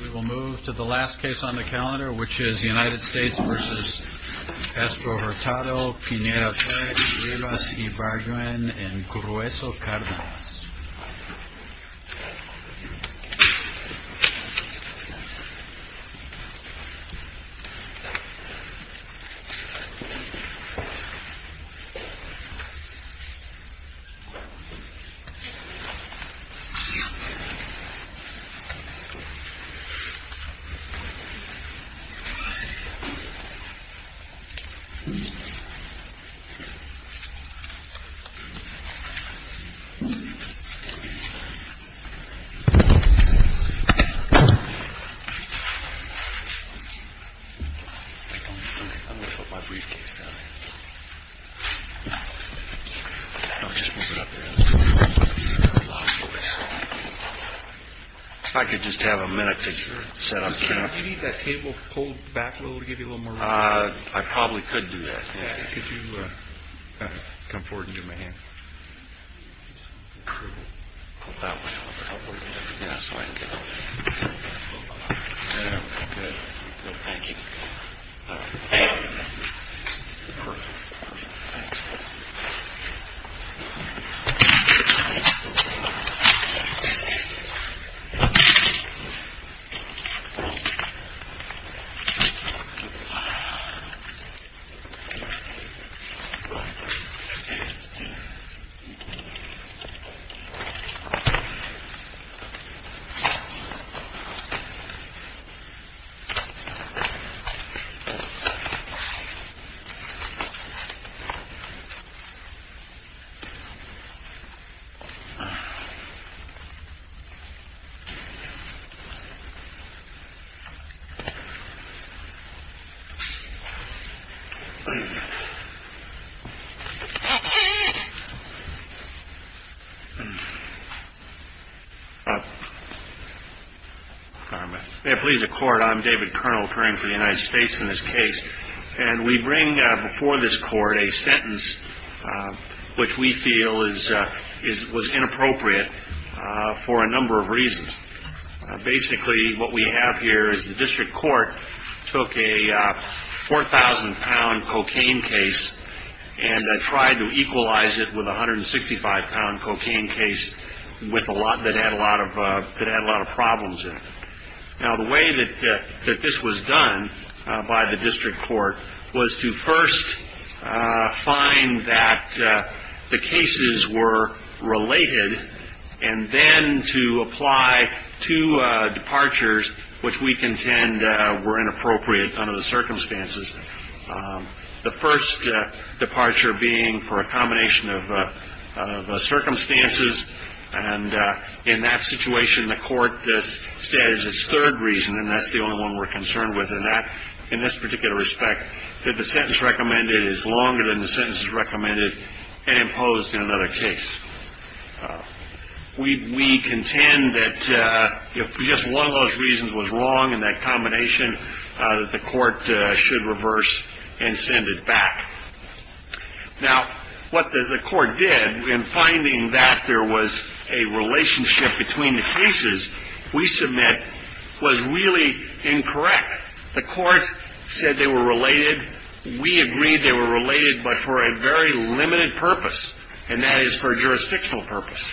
We will move to the last case on the calendar, which is United States v. Castro-Hurtado, Pineda-Torres, Rivas-Ibarguen, and Grueso-Cardenas. I'm going to put my briefcase down here. I'll just move it up here. If I could just have a minute to set up here. Do you need that table pulled back a little to give you a little more room? I probably could do that, yeah. Could you come forward and give me a hand? Pull that one over. That's fine. Good. Thank you. Perfect. Thanks. Thank you. Thank you. Thank you. Thank you. Thank you. Thank you. Thank you. Thank you. Thank you. Thank you. Thank you. Thank you. We contend that if just one of those reasons was wrong in that combination, that the court should reverse and send it back. Now, what the court did in finding that there was a relationship between the cases we submit was really incorrect. The court said they were related. We agreed they were related, but for a very limited purpose, and that is for jurisdictional purpose.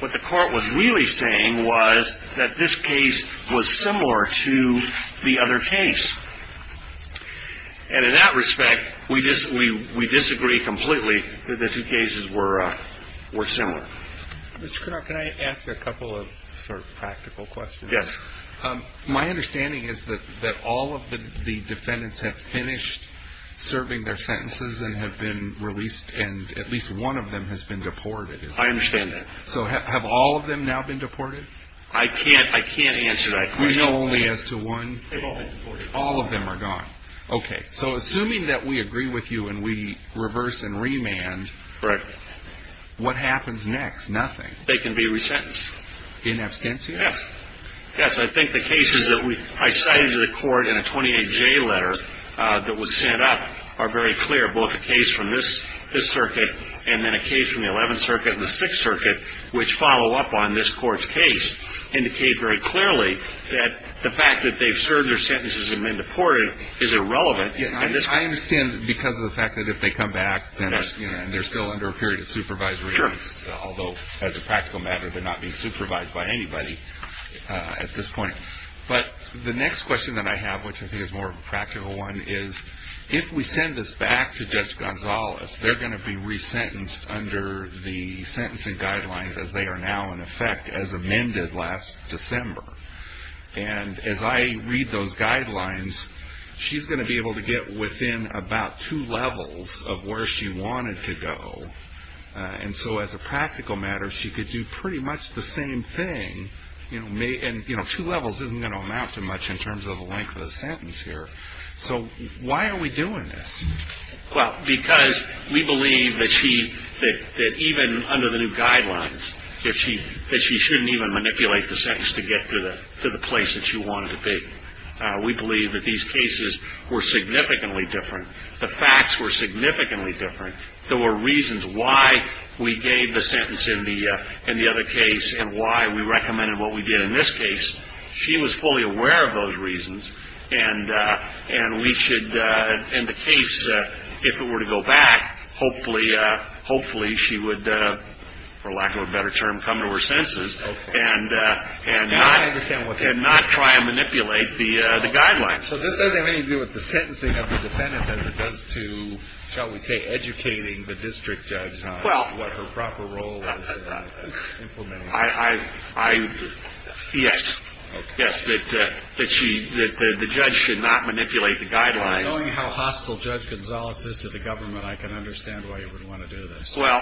What the court was really saying was that this case was similar to the other case. And in that respect, we disagree completely that the two cases were similar. Mr. Cunard, can I ask a couple of practical questions? Yes. My understanding is that all of the defendants have finished serving their sentences and have been released, and at least one of them has been deported. I understand that. So have all of them now been deported? I can't answer that question. We know only as to one? They've all been deported. All of them are gone. Okay. So assuming that we agree with you and we reverse and remand, what happens next? Nothing. They can be resentenced. In absentia? Yes. Yes. I think the cases that I cited to the court in a 28J letter that was sent up are very clear. Both the case from this circuit and then a case from the 11th Circuit and the 6th Circuit, which follow up on this court's case, indicate very clearly that the fact that they've served their sentences and been deported is irrelevant. I understand because of the fact that if they come back, then they're still under a period of supervisory notice. Sure. Although, as a practical matter, they're not being supervised by anybody at this point. But the next question that I have, which I think is a more practical one, is if we send this back to Judge Gonzalez, they're going to be resentenced under the sentencing guidelines as they are now in effect as amended last December. And as I read those guidelines, she's going to be able to get within about two levels of where she wanted to go. And so as a practical matter, she could do pretty much the same thing. And two levels isn't going to amount to much in terms of the length of the sentence here. So why are we doing this? Well, because we believe that she, that even under the new guidelines, that she shouldn't even manipulate the sentence to get to the place that she wanted to be. We believe that these cases were significantly different. The facts were significantly different. There were reasons why we gave the sentence in the other case and why we recommended what we did in this case. She was fully aware of those reasons. And we should, in the case, if it were to go back, hopefully she would, for lack of a better term, come to her senses. And not try and manipulate the guidelines. So this doesn't have anything to do with the sentencing of the defendants as it does to, shall we say, educating the district judge on what her proper role was in implementing it. Yes. Yes, that the judge should not manipulate the guidelines. Knowing how hostile Judge Gonzales is to the government, I can understand why you would want to do this. Well,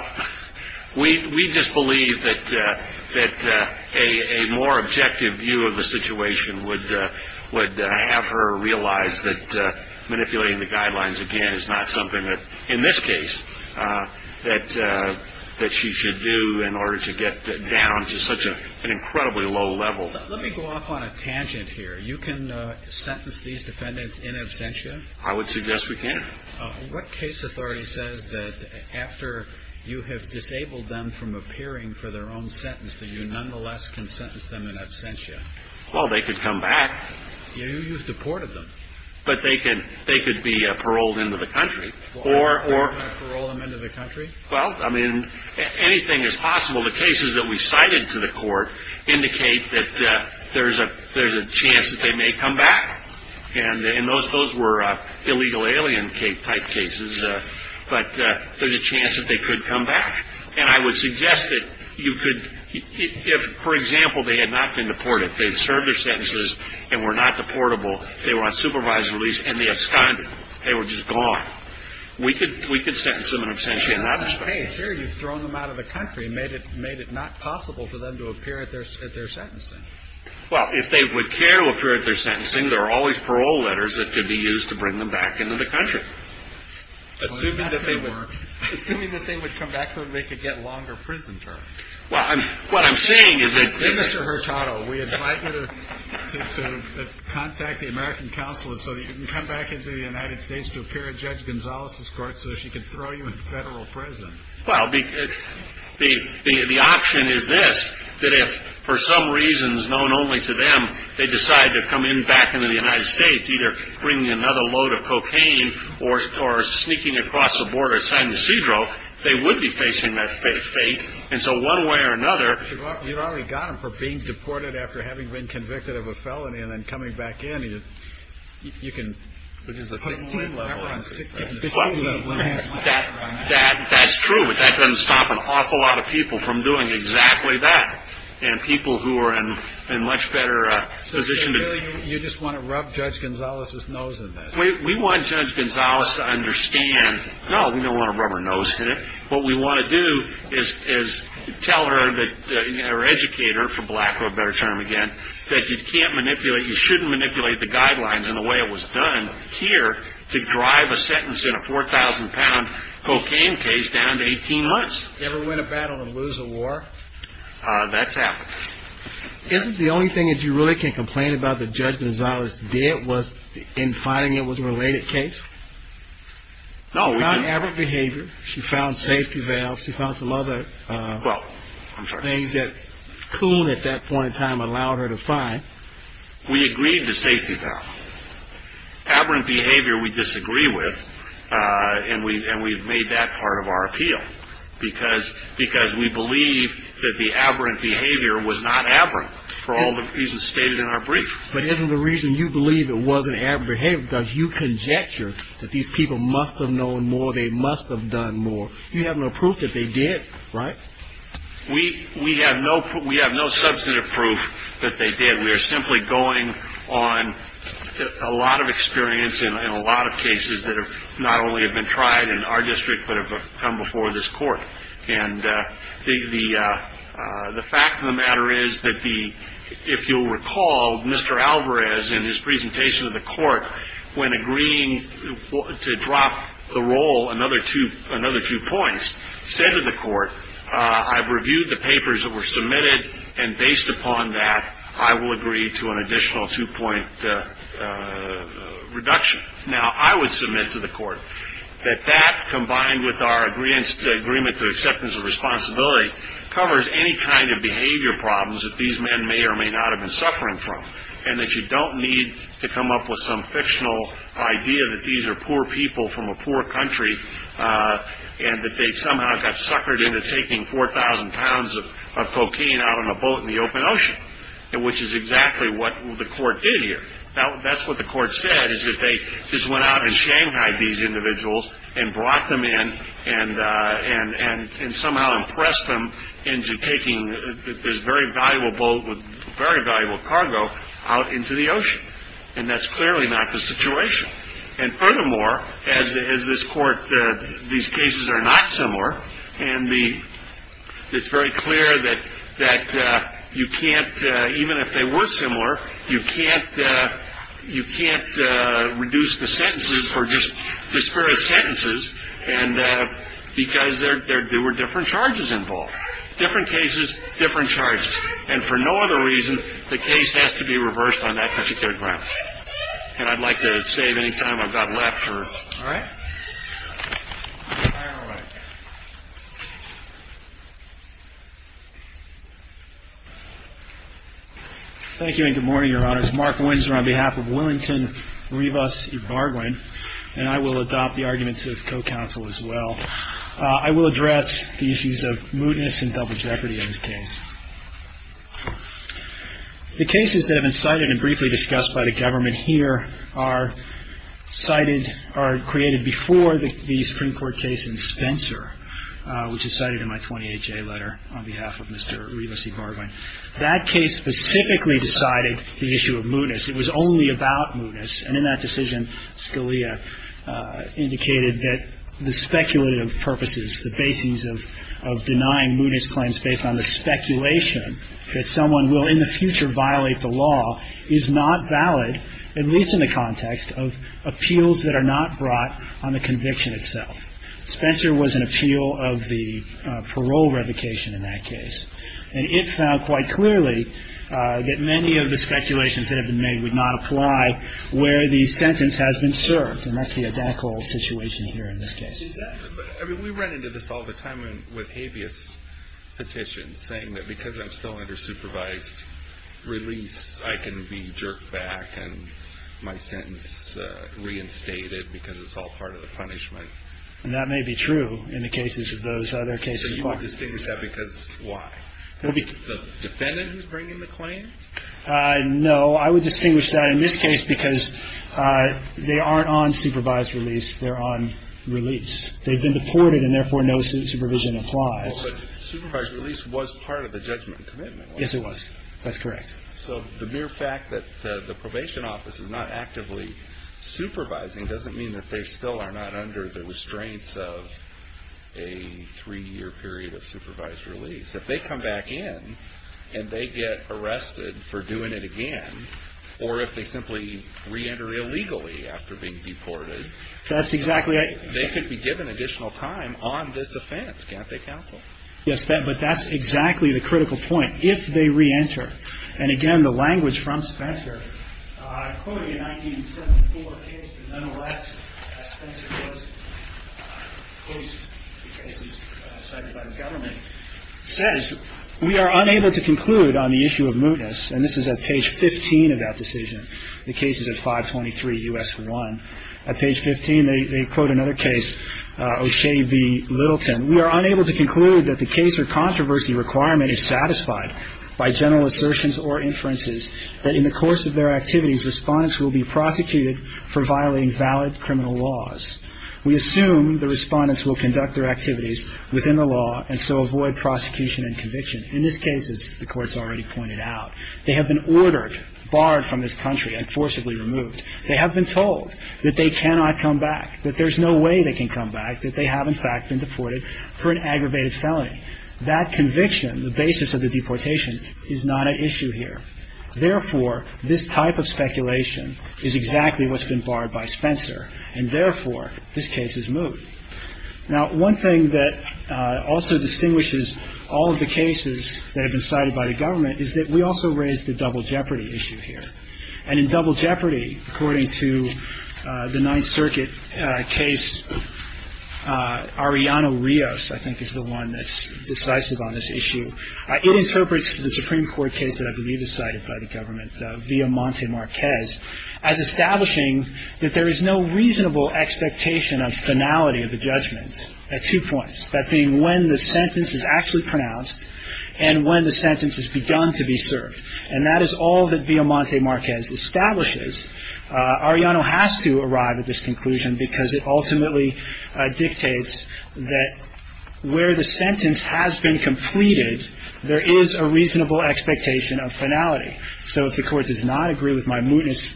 we just believe that a more objective view of the situation would have her realize that manipulating the guidelines, again, is not something that, in this case, that she should do in order to get down to such an incredibly low level. Let me go off on a tangent here. You can sentence these defendants in absentia? I would suggest we can. What case authority says that after you have disabled them from appearing for their own sentence that you nonetheless can sentence them in absentia? Well, they could come back. You've deported them. But they could be paroled into the country. Paroled them into the country? Well, I mean, anything is possible. The cases that we cited to the court indicate that there's a chance that they may come back. And those were illegal alien type cases. But there's a chance that they could come back. And I would suggest that you could, for example, they had not been deported. If they served their sentences and were not deportable, they were on supervisory release and they absconded. They were just gone. We could sentence them in absentia in that respect. In that case here, you've thrown them out of the country and made it not possible for them to appear at their sentencing. Well, if they would care to appear at their sentencing, there are always parole letters that could be used to bring them back into the country. Assuming that they would come back so that they could get longer prison terms. Well, what I'm saying is that this. Mr. Hurtado, we invite you to contact the American Council so that you can come back into the United States to appear at Judge Gonzalez's court so she can throw you in federal prison. Well, because the option is this, that if for some reasons known only to them, they decide to come in back into the United States, either bringing another load of cocaine or sneaking across the border of San Ysidro, they would be facing that fate. And so one way or another. You've already got them for being deported after having been convicted of a felony and then coming back in. You can put them on that level. That's true, but that doesn't stop an awful lot of people from doing exactly that. And people who are in a much better position. So you just want to rub Judge Gonzalez's nose in this? We want Judge Gonzalez to understand, no, we don't want to rub her nose in it. What we want to do is tell her or educate her, for lack of a better term again, that you can't manipulate, you shouldn't manipulate the guidelines in the way it was done here to drive a sentence in a 4,000-pound cocaine case down to 18 months. Ever win a battle and lose a war? That's happened. Isn't the only thing that you really can complain about that Judge Gonzalez did was in finding it was a related case? No, we didn't. She found aberrant behavior. She found safety valves. She found some other things that Coon at that point in time allowed her to find. We agreed to safety valve. Aberrant behavior we disagree with, and we've made that part of our appeal, because we believe that the aberrant behavior was not aberrant for all the reasons stated in our brief. But isn't the reason you believe it wasn't aberrant behavior because you conjecture that these people must have known more, they must have done more. You have no proof that they did, right? We have no substantive proof that they did. We are simply going on a lot of experience in a lot of cases that not only have been tried in our district but have come before this court. And the fact of the matter is that if you'll recall, Mr. Alvarez, in his presentation to the court, when agreeing to drop the roll another two points, said to the court, I've reviewed the papers that were submitted, and based upon that, I will agree to an additional two-point reduction. Now, I would submit to the court that that, combined with our agreement to acceptance of responsibility, covers any kind of behavior problems that these men may or may not have been suffering from, and that you don't need to come up with some fictional idea that these are poor people from a poor country and that they somehow got suckered into taking 4,000 pounds of cocaine out on a boat in the open ocean, which is exactly what the court did here. That's what the court said, is that they just went out in Shanghai, these individuals, and brought them in and somehow impressed them into taking this very valuable boat with very valuable cargo out into the ocean. And that's clearly not the situation. And furthermore, as this court, these cases are not similar, and it's very clear that you can't, even if they were similar, you can't reduce the sentences or just disperse sentences because there were different charges involved. Different cases, different charges. And for no other reason, the case has to be reversed on that particular ground. And I'd like to save any time I've got left. All right. Thank you and good morning, Your Honors. Mark Windsor on behalf of Willington Rivas Ybarguen, and I will adopt the arguments of co-counsel as well. I will address the issues of mootness and double jeopardy in this case. The cases that have been cited and briefly discussed by the government here are cited or created before the Supreme Court case in Spencer, which is cited in my 28-J letter on behalf of Mr. Rivas Ybarguen. That case specifically decided the issue of mootness. It was only about mootness. And in that decision, Scalia indicated that the speculative purposes, the basis of denying mootness claims based on the speculation that someone will in the future violate the law is not valid, at least in the context of appeals that are not brought on the conviction itself. Spencer was an appeal of the parole revocation in that case. And it found quite clearly that many of the speculations that have been made would not apply where the sentence has been served. And that's the identical situation here in this case. I mean, we run into this all the time with habeas petitions, saying that because I'm still under supervised release, I can be jerked back and my sentence reinstated because it's all part of the punishment. And that may be true in the cases of those other cases. So you would distinguish that because why? Because the defendant is bringing the claim? No. I would distinguish that in this case because they aren't on supervised release. They're on release. They've been deported and, therefore, no supervision applies. Well, but supervised release was part of the judgment commitment, wasn't it? Yes, it was. That's correct. So the mere fact that the probation office is not actively supervising doesn't mean that they still are not under the restraints of a three-year period of supervised release. If they come back in and they get arrested for doing it again, or if they simply reenter illegally after being deported, they could be given additional time on this offense. Can't they counsel? Yes. But that's exactly the critical point. If they reenter. And, again, the language from Spencer, I quoted a 1974 case that nonetheless, as Spencer does in most cases cited by the government, says we are unable to conclude on the issue of mootness. And this is at page 15 of that decision. The case is at 523 U.S. 1. At page 15, they quote another case, O'Shea v. Littleton. We are unable to conclude that the case or controversy requirement is satisfied by general assertions or inferences that in the course of their activities, respondents will be prosecuted for violating valid criminal laws. We assume the respondents will conduct their activities within the law and so avoid prosecution and conviction. In this case, as the Court's already pointed out, they have been ordered, barred from this country and forcibly removed. They have been told that they cannot come back, that there's no way they can come back, that they have, in fact, been deported for an aggravated felony. That conviction, the basis of the deportation, is not at issue here. Therefore, this type of speculation is exactly what's been barred by Spencer. And, therefore, this case is moot. Now, one thing that also distinguishes all of the cases that have been cited by the government is that we also raised the double jeopardy issue here. And in double jeopardy, according to the Ninth Circuit case, Arianna Rios, I think, is the one that's decisive on this issue. It interprets the Supreme Court case that I believe is cited by the government, Villamonte-Marquez, as establishing that there is no reasonable expectation of finality of the judgment at two points, that being when the sentence is actually pronounced and when the sentence has begun to be served. And that is all that Villamonte-Marquez establishes. Arianna has to arrive at this conclusion because it ultimately dictates that where the sentence has been completed, there is a reasonable expectation of finality. So if the Court does not agree with my mootness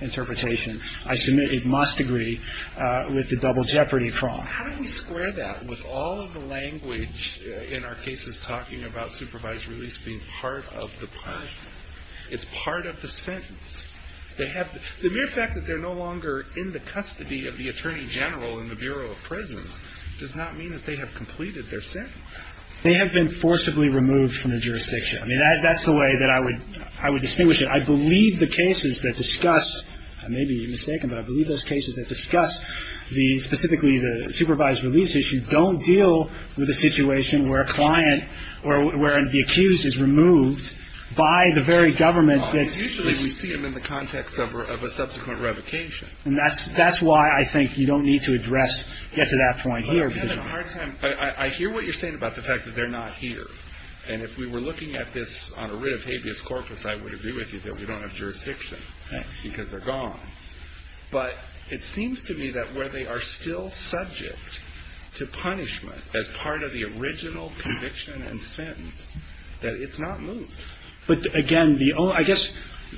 interpretation, I submit it must agree with the double jeopardy prong. How do we square that with all of the language in our cases talking about supervised release being part of the punishment? It's part of the sentence. The mere fact that they're no longer in the custody of the Attorney General in the Bureau of Prisons does not mean that they have completed their sentence. They have been forcibly removed from the jurisdiction. I mean, that's the way that I would distinguish it. I believe the cases that discuss – I may be mistaken, but I believe those cases that discuss the – specifically the supervised release issue don't deal with a situation where a client or where the accused is removed by the very government that's – Usually we see them in the context of a subsequent revocation. And that's why I think you don't need to address – get to that point here. But I've had a hard time – I hear what you're saying about the fact that they're not here. And if we were looking at this on a writ of habeas corpus, I would agree with you that we don't have jurisdiction because they're gone. But it seems to me that where they are still subject to punishment as part of the original conviction and sentence, that it's not moved. But, again, the – I guess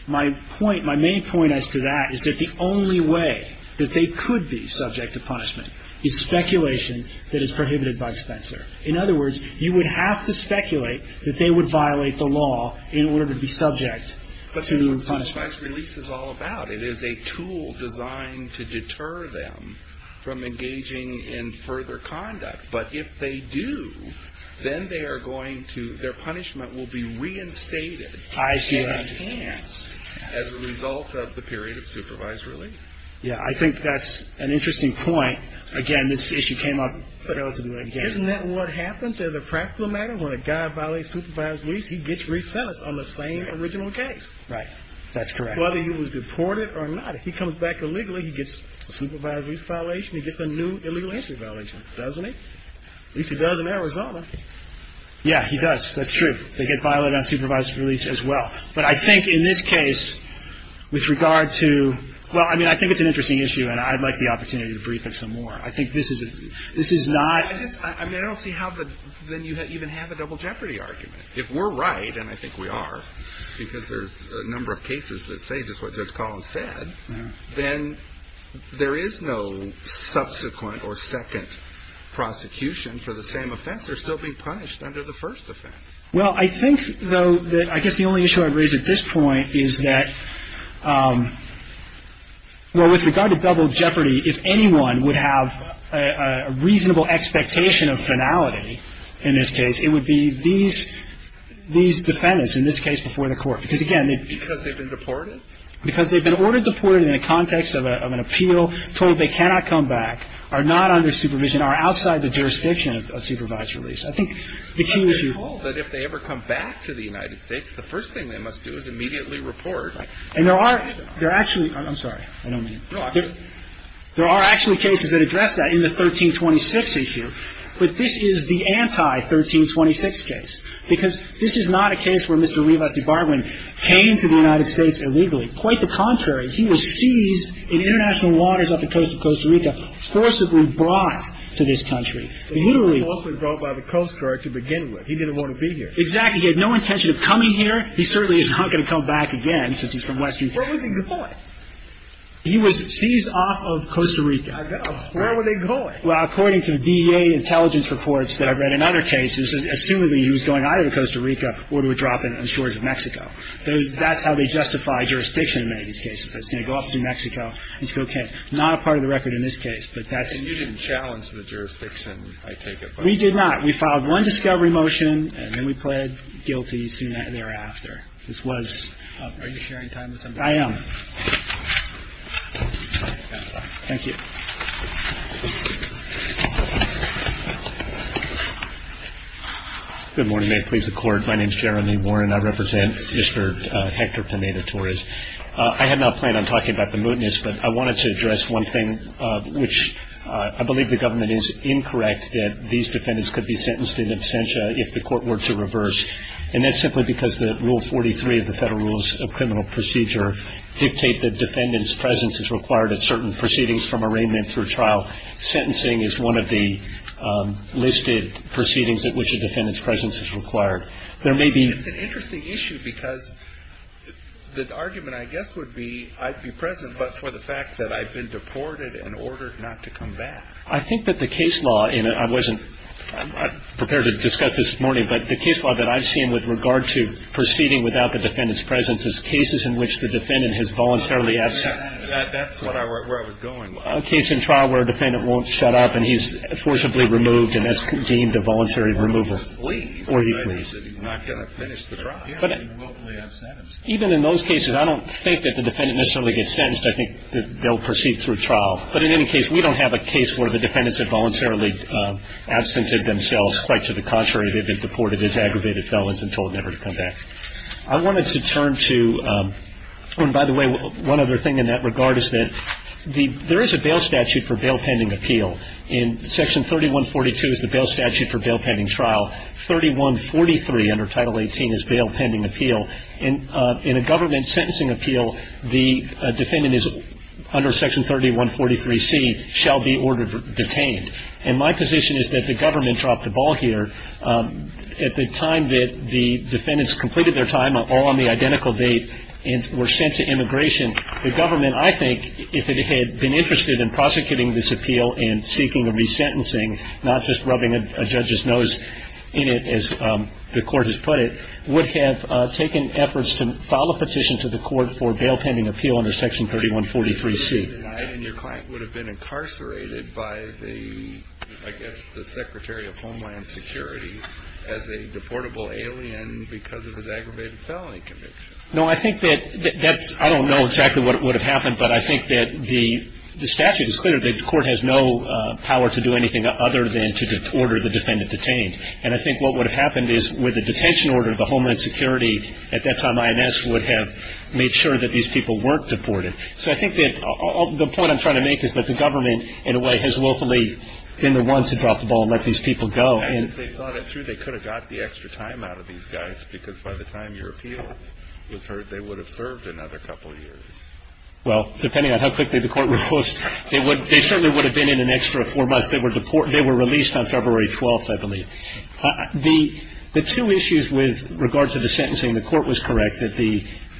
my point – my main point as to that is that the only way that they could be subject to punishment is speculation that is prohibited by Spencer. In other words, you would have to speculate that they would violate the law in order to be subject to the punishment. But that's what supervised release is all about. It is a tool designed to deter them from engaging in further conduct. But if they do, then they are going to – their punishment will be reinstated. I see what you're saying. And enhanced as a result of the period of supervised release. Yeah, I think that's an interesting point. Again, this issue came up relatively late. Isn't that what happens as a practical matter? When a guy violates supervised release, he gets re-sentenced on the same original case. Right. That's correct. Whether he was deported or not. If he comes back illegally, he gets a supervised release violation. He gets a new illegal entry violation, doesn't he? At least he does in Arizona. Yeah, he does. That's true. They get violated on supervised release as well. But I think in this case, with regard to – well, I mean, I think it's an interesting issue, and I'd like the opportunity to brief it some more. I think this is not – I just – I mean, I don't see how then you even have a double jeopardy argument. If we're right, and I think we are, because there's a number of cases that say just what Judge Collins said, then there is no subsequent or second prosecution for the same offense. They're still being punished under the first offense. Well, I think, though, that I guess the only issue I'd raise at this point is that – well, with regard to double jeopardy, if anyone would have a reasonable expectation of finality in this case, it would be these defendants, in this case, before the court. Because, again, they – Because they've been deported? Because they've been ordered deported in the context of an appeal, told they cannot come back, are not under supervision, are outside the jurisdiction of supervised release. I think the key issue – They're told that if they ever come back to the United States, the first thing they must do is immediately report. And there are – there actually – I'm sorry. I don't mean – There are actually cases that address that in the 1326 issue. But this is the anti-1326 case. Because this is not a case where Mr. Rivas de Barbon came to the United States illegally. Quite the contrary. He was seized in international waters off the coast of Costa Rica, forcibly brought to this country. Literally – He was forcibly brought by the Coast Guard to begin with. He didn't want to be here. Exactly. He had no intention of coming here. He certainly is not going to come back again, since he's from western – But was he deported? He was seized off of Costa Rica. Where were they going? Well, according to the DEA intelligence reports that I've read in other cases, assumedly he was going either to Costa Rica or to a drop in the shores of Mexico. That's how they justify jurisdiction in many of these cases. It's going to go up through Mexico. It's okay. Not a part of the record in this case. But that's – And you didn't challenge the jurisdiction, I take it. We did not. We filed one discovery motion, and then we pled guilty soon thereafter. This was – Are you sharing time with somebody? I am. Thank you. Good morning. May it please the Court. My name is Jeremy Warren. I represent Mr. Hector Pineda-Torres. I had not planned on talking about the mootness, but I wanted to address one thing, which I believe the government is incorrect that these defendants could be sentenced in absentia if the court were to reverse, and that's simply because the Rule 43 of the Federal Rules of Criminal Procedure dictate that defendant's presence is required at certain proceedings from arraignment through trial. Sentencing is one of the listed proceedings at which a defendant's presence is required. There may be – It's an interesting issue because the argument, I guess, would be I'd be present, but for the fact that I've been deported and ordered not to come back. I think that the case law – I'm not prepared to discuss this morning, but the case law that I've seen with regard to proceeding without the defendant's presence is cases in which the defendant has voluntarily – That's where I was going. A case in trial where a defendant won't shut up and he's forcibly removed, and that's deemed a voluntary removal. Or he flees. Or he flees. He's not going to finish the trial. He won't lay absent. Even in those cases, I don't think that the defendant necessarily gets sentenced. I think that they'll proceed through trial. But in any case, we don't have a case where the defendants have voluntarily absented themselves. Quite to the contrary, they've been deported as aggravated felons and told never to come back. I wanted to turn to – and by the way, one other thing in that regard is that there is a bail statute for bail pending appeal. In Section 3142 is the bail statute for bail pending trial. 3143 under Title 18 is bail pending appeal. In a government sentencing appeal, the defendant is under Section 3143C, shall be ordered detained. And my position is that the government dropped the ball here. At the time that the defendants completed their time, all on the identical date, and were sent to immigration, the government, I think, if it had been interested in prosecuting this appeal and seeking a resentencing, not just rubbing a judge's nose in it, as the court has put it, would have taken efforts to file a petition to the court for bail pending appeal under Section 3143C. And your client would have been incarcerated by the, I guess, the Secretary of Homeland Security as a deportable alien because of his aggravated felony conviction. No, I think that that's – I don't know exactly what would have happened, but I think that the statute is clear that the court has no power to do anything other than to order the defendant detained. And I think what would have happened is with a detention order, the Homeland Security, at that time, INS would have made sure that these people weren't deported. So I think that the point I'm trying to make is that the government, in a way, has willfully been the ones to drop the ball and let these people go. And if they thought it through, they could have got the extra time out of these guys because by the time your appeal was heard, they would have served another couple of years. Well, depending on how quickly the court would post, they certainly would have been in an extra four months. They were released on February 12th, I believe. The two issues with regard to the sentencing, the court was correct.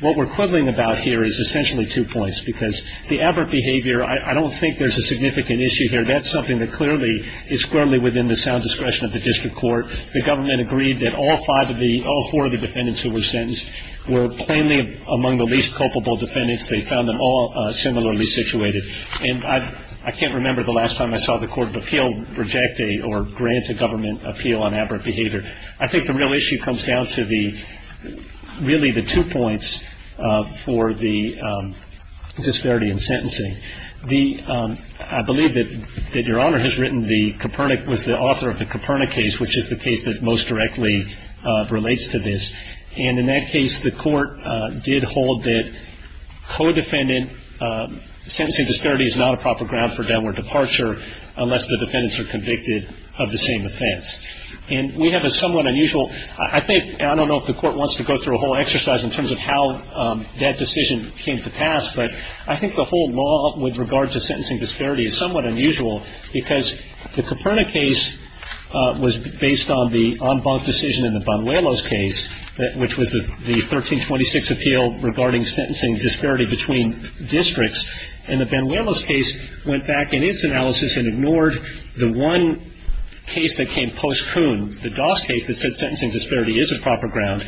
What we're quibbling about here is essentially two points because the aberrant behavior, I don't think there's a significant issue here. That's something that clearly is within the sound discretion of the district court. The government agreed that all four of the defendants who were sentenced were plainly among the least culpable defendants. They found them all similarly situated. And I can't remember the last time I saw the court of appeal reject a or grant a government appeal on aberrant behavior. I think the real issue comes down to really the two points for the disparity in sentencing. I believe that Your Honor has written the Copernic with the author of the Copernic case, which is the case that most directly relates to this. And in that case, the court did hold that co-defendant sentencing disparity is not a proper ground for downward departure unless the defendants are convicted of the same offense. And we have a somewhat unusual, I think, and I don't know if the court wants to go through a whole exercise in terms of how that decision came to pass, but I think the whole law with regards to sentencing disparity is somewhat unusual because the Copernic case was based on the en banc decision in the Banuelos case, which was the 1326 appeal regarding sentencing disparity between districts. And the Banuelos case went back in its analysis and ignored the one case that came post-Coon, the Doss case that said sentencing disparity is a proper ground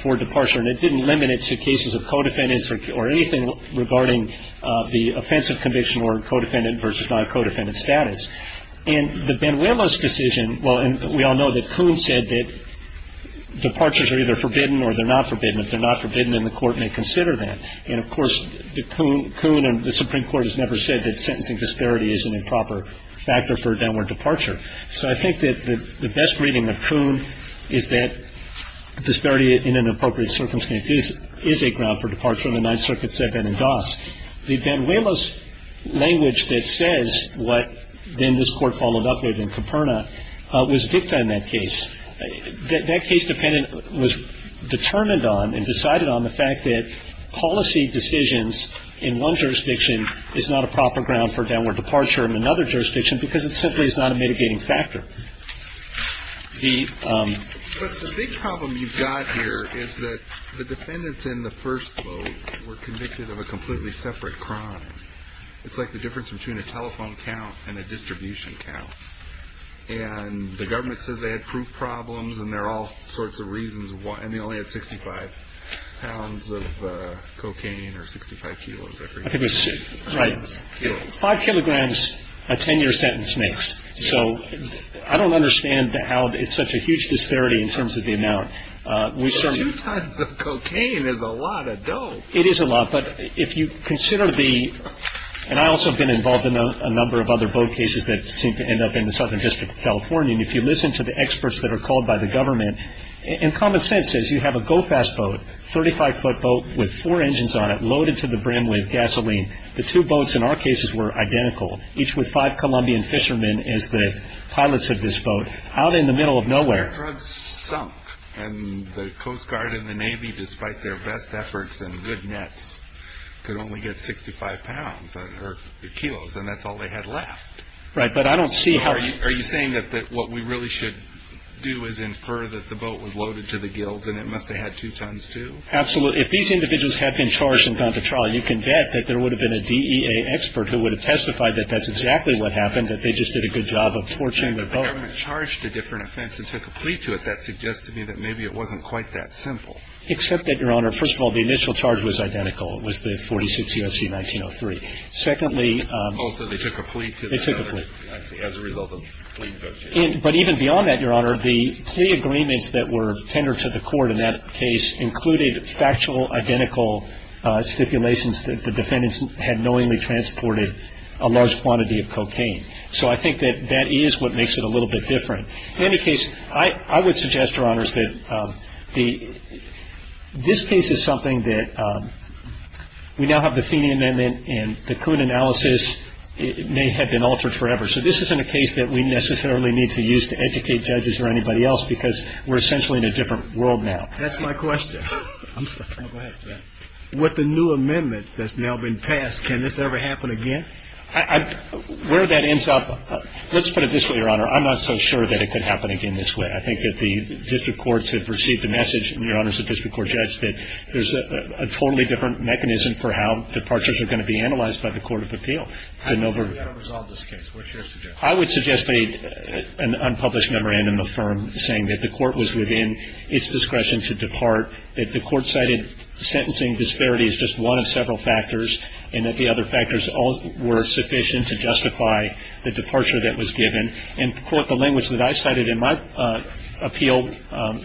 for departure. And it didn't limit it to cases of co-defendants or anything regarding the offense of conviction or co-defendant versus non-co-defendant status. In the Banuelos decision, well, we all know that Coon said that departures are either forbidden or they're not forbidden. If they're not forbidden, then the court may consider that. And, of course, Coon and the Supreme Court has never said that sentencing disparity is an improper factor for downward departure. So I think that the best reading of Coon is that disparity in an appropriate circumstance is a ground for departure in the Ninth Circuit, Seguin, and Doss. The Banuelos language that says what then this Court followed up with in Caperna was dicta in that case. That case was determined on and decided on the fact that policy decisions in one jurisdiction is not a proper ground for downward departure in another jurisdiction because it simply is not a mitigating factor. The big problem you've got here is that the defendants in the first vote were convicted of a completely separate crime. It's like the difference between a telephone count and a distribution count. And the government says they had proof problems, and there are all sorts of reasons why, and they only had 65 pounds of cocaine or 65 kilos. Right. Five kilograms, a 10-year sentence makes. So I don't understand how it's such a huge disparity in terms of the amount. Two tons of cocaine is a lot of dough. It is a lot. But if you consider the – and I also have been involved in a number of other vote cases that seem to end up in the Southern District of California. And if you listen to the experts that are called by the government, and common sense says you have a go-fast boat, 35-foot boat with four engines on it loaded to the brim with gasoline. The two boats in our cases were identical, each with five Colombian fishermen as the pilots of this boat, out in the middle of nowhere. Their drugs sunk, and the Coast Guard and the Navy, despite their best efforts and good nets, could only get 65 pounds or kilos, and that's all they had left. Right, but I don't see how – Are you saying that what we really should do is infer that the boat was loaded to the gills and it must have had two tons, too? Absolutely. If these individuals had been charged and gone to trial, you can bet that there would have been a DEA expert who would have testified that that's exactly what happened, that they just did a good job of torching the boat. The government charged a different offense and took a plea to it. That suggests to me that maybe it wasn't quite that simple. Except that, Your Honor, first of all, the initial charge was identical. It was the 46 U.S.C. 1903. Secondly – Oh, so they took a plea to it. They took a plea. As a result of a plea to go to jail. But even beyond that, Your Honor, the plea agreements that were tendered to the court in that case included factual, identical stipulations that the defendants had knowingly transported a large quantity of cocaine. So I think that that is what makes it a little bit different. In any case, I would suggest, Your Honors, that this case is something that – We now have the Feeney Amendment and the Coon analysis may have been altered forever. So this isn't a case that we necessarily need to use to educate judges or anybody else because we're essentially in a different world now. That's my question. I'm sorry. Go ahead. With the new amendment that's now been passed, can this ever happen again? Where that ends up – let's put it this way, Your Honor. I'm not so sure that it could happen again this way. I think that the district courts have received the message, and Your Honor, as a district court judge, that there's a totally different mechanism for how departures are going to be analyzed by the court of appeal. How are we going to resolve this case? What's your suggestion? I would suggest an unpublished memorandum of firm saying that the court was within its discretion to depart, that the court cited sentencing disparity as just one of several factors, and that the other factors were sufficient to justify the departure that was given. And to quote the language that I cited in my appeal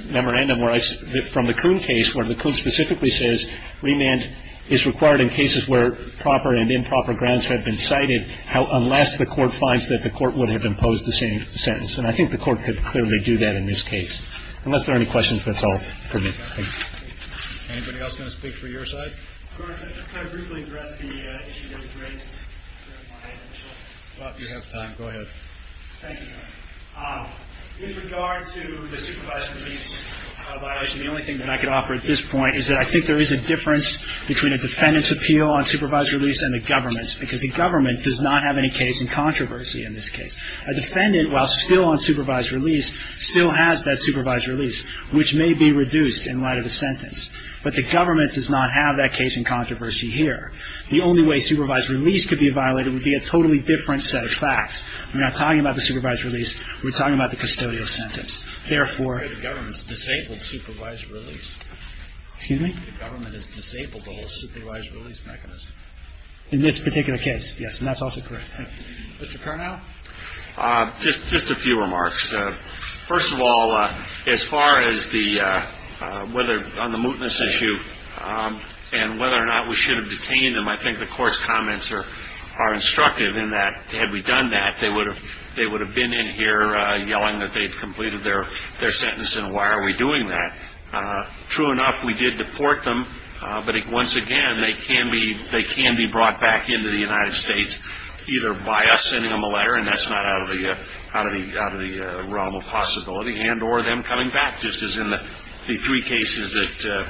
memorandum from the Kuhn case, where the Kuhn specifically says remand is required in cases where proper and improper grounds have been cited, unless the court finds that the court would have imposed the same sentence. And I think the court could clearly do that in this case. Unless there are any questions, that's all for me. Thank you. Anybody else going to speak for your side? Could I briefly address the issue that was raised? You have time. Go ahead. Thank you, Your Honor. With regard to the supervised release violation, the only thing that I could offer at this point is that I think there is a difference between a defendant's appeal on supervised release and the government's, because the government does not have any case in controversy in this case. A defendant, while still on supervised release, still has that supervised release, which may be reduced in light of the sentence. But the government does not have that case in controversy here. The only way supervised release could be violated would be a totally different set of facts. We're not talking about the supervised release. We're talking about the custodial sentence. Therefore the government's disabled supervised release. Excuse me? The government is disabled the whole supervised release mechanism. In this particular case, yes. And that's also correct. Mr. Carnell? Just a few remarks. First of all, as far as whether on the mootness issue and whether or not we should have detained them, I think the court's comments are instructive in that had we done that, they would have been in here yelling that they had completed their sentence, and why are we doing that? True enough, we did deport them, but once again they can be brought back into the United States either by us sending them a letter, and that's not out of the realm of possibility, and or them coming back just as in the three cases that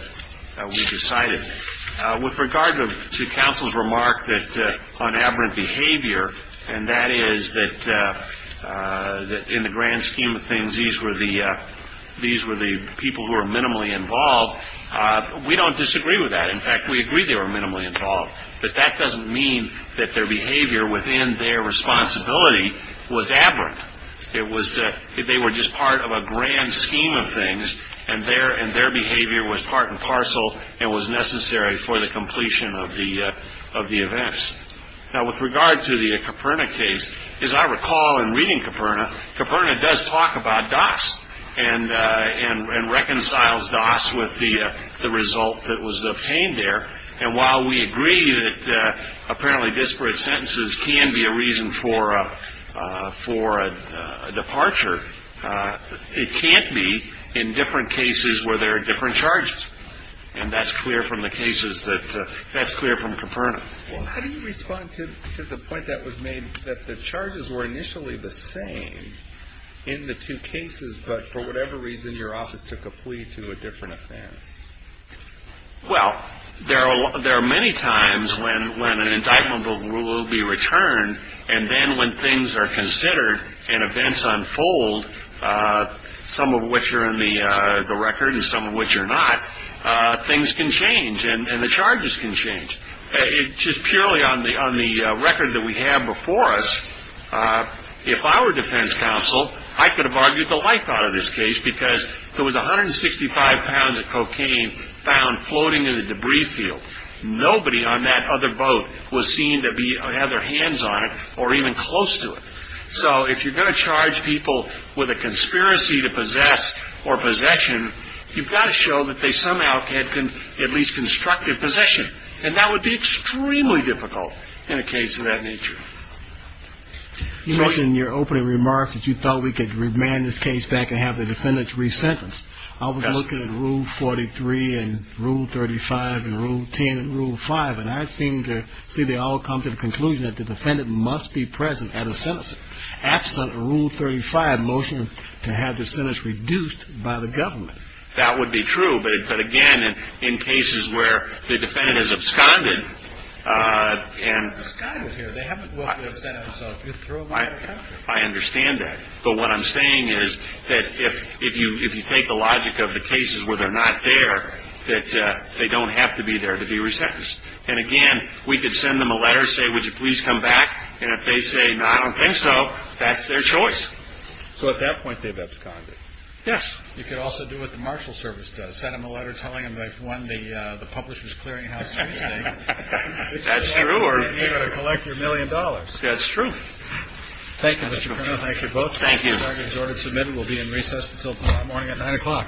we decided. With regard to counsel's remark that on aberrant behavior, and that is that in the grand scheme of things these were the people who were minimally involved, we don't disagree with that. In fact, we agree they were minimally involved. But that doesn't mean that their behavior within their responsibility was aberrant. They were just part of a grand scheme of things, and their behavior was part and parcel and was necessary for the completion of the events. Now, with regard to the Caperna case, as I recall in reading Caperna, Caperna does talk about Doss and reconciles Doss with the result that was obtained there, and while we agree that apparently disparate sentences can be a reason for a departure, it can't be in different cases where there are different charges, and that's clear from the cases that that's clear from Caperna. How do you respond to the point that was made that the charges were initially the same in the two cases, but for whatever reason your office took a plea to a different offense? Well, there are many times when an indictment will be returned, and then when things are considered and events unfold, some of which are in the record and some of which are not, things can change and the charges can change. Just purely on the record that we have before us, if I were defense counsel, I could have argued the life out of this case because there was 165 pounds of cocaine found floating in the debris field. Nobody on that other boat was seen to have their hands on it or even close to it. So if you're going to charge people with a conspiracy to possess or possession, you've got to show that they somehow had at least constructed possession, and that would be extremely difficult in a case of that nature. You mentioned in your opening remarks that you thought we could remand this case back and have the defendants resentenced. I was looking at Rule 43 and Rule 35 and Rule 10 and Rule 5, and I seem to see they all come to the conclusion that the defendant must be present at a sentencing. Absent Rule 35 motion to have the sentence reduced by the government. That would be true, but again, in cases where the defendant is absconded and I understand that. But what I'm saying is that if you take the logic of the cases where they're not there, that they don't have to be there to be resentenced. And again, we could send them a letter and say, would you please come back? And if they say, no, I don't think so, that's their choice. So at that point they've absconded. Yes. You could also do what the Marshal Service does, send them a letter telling them they've won the Publishers Clearinghouse. That's true. Or you're going to collect your million dollars. That's true. Thank you. Thank you both. Thank you. We'll be in recess until tomorrow morning at nine o'clock.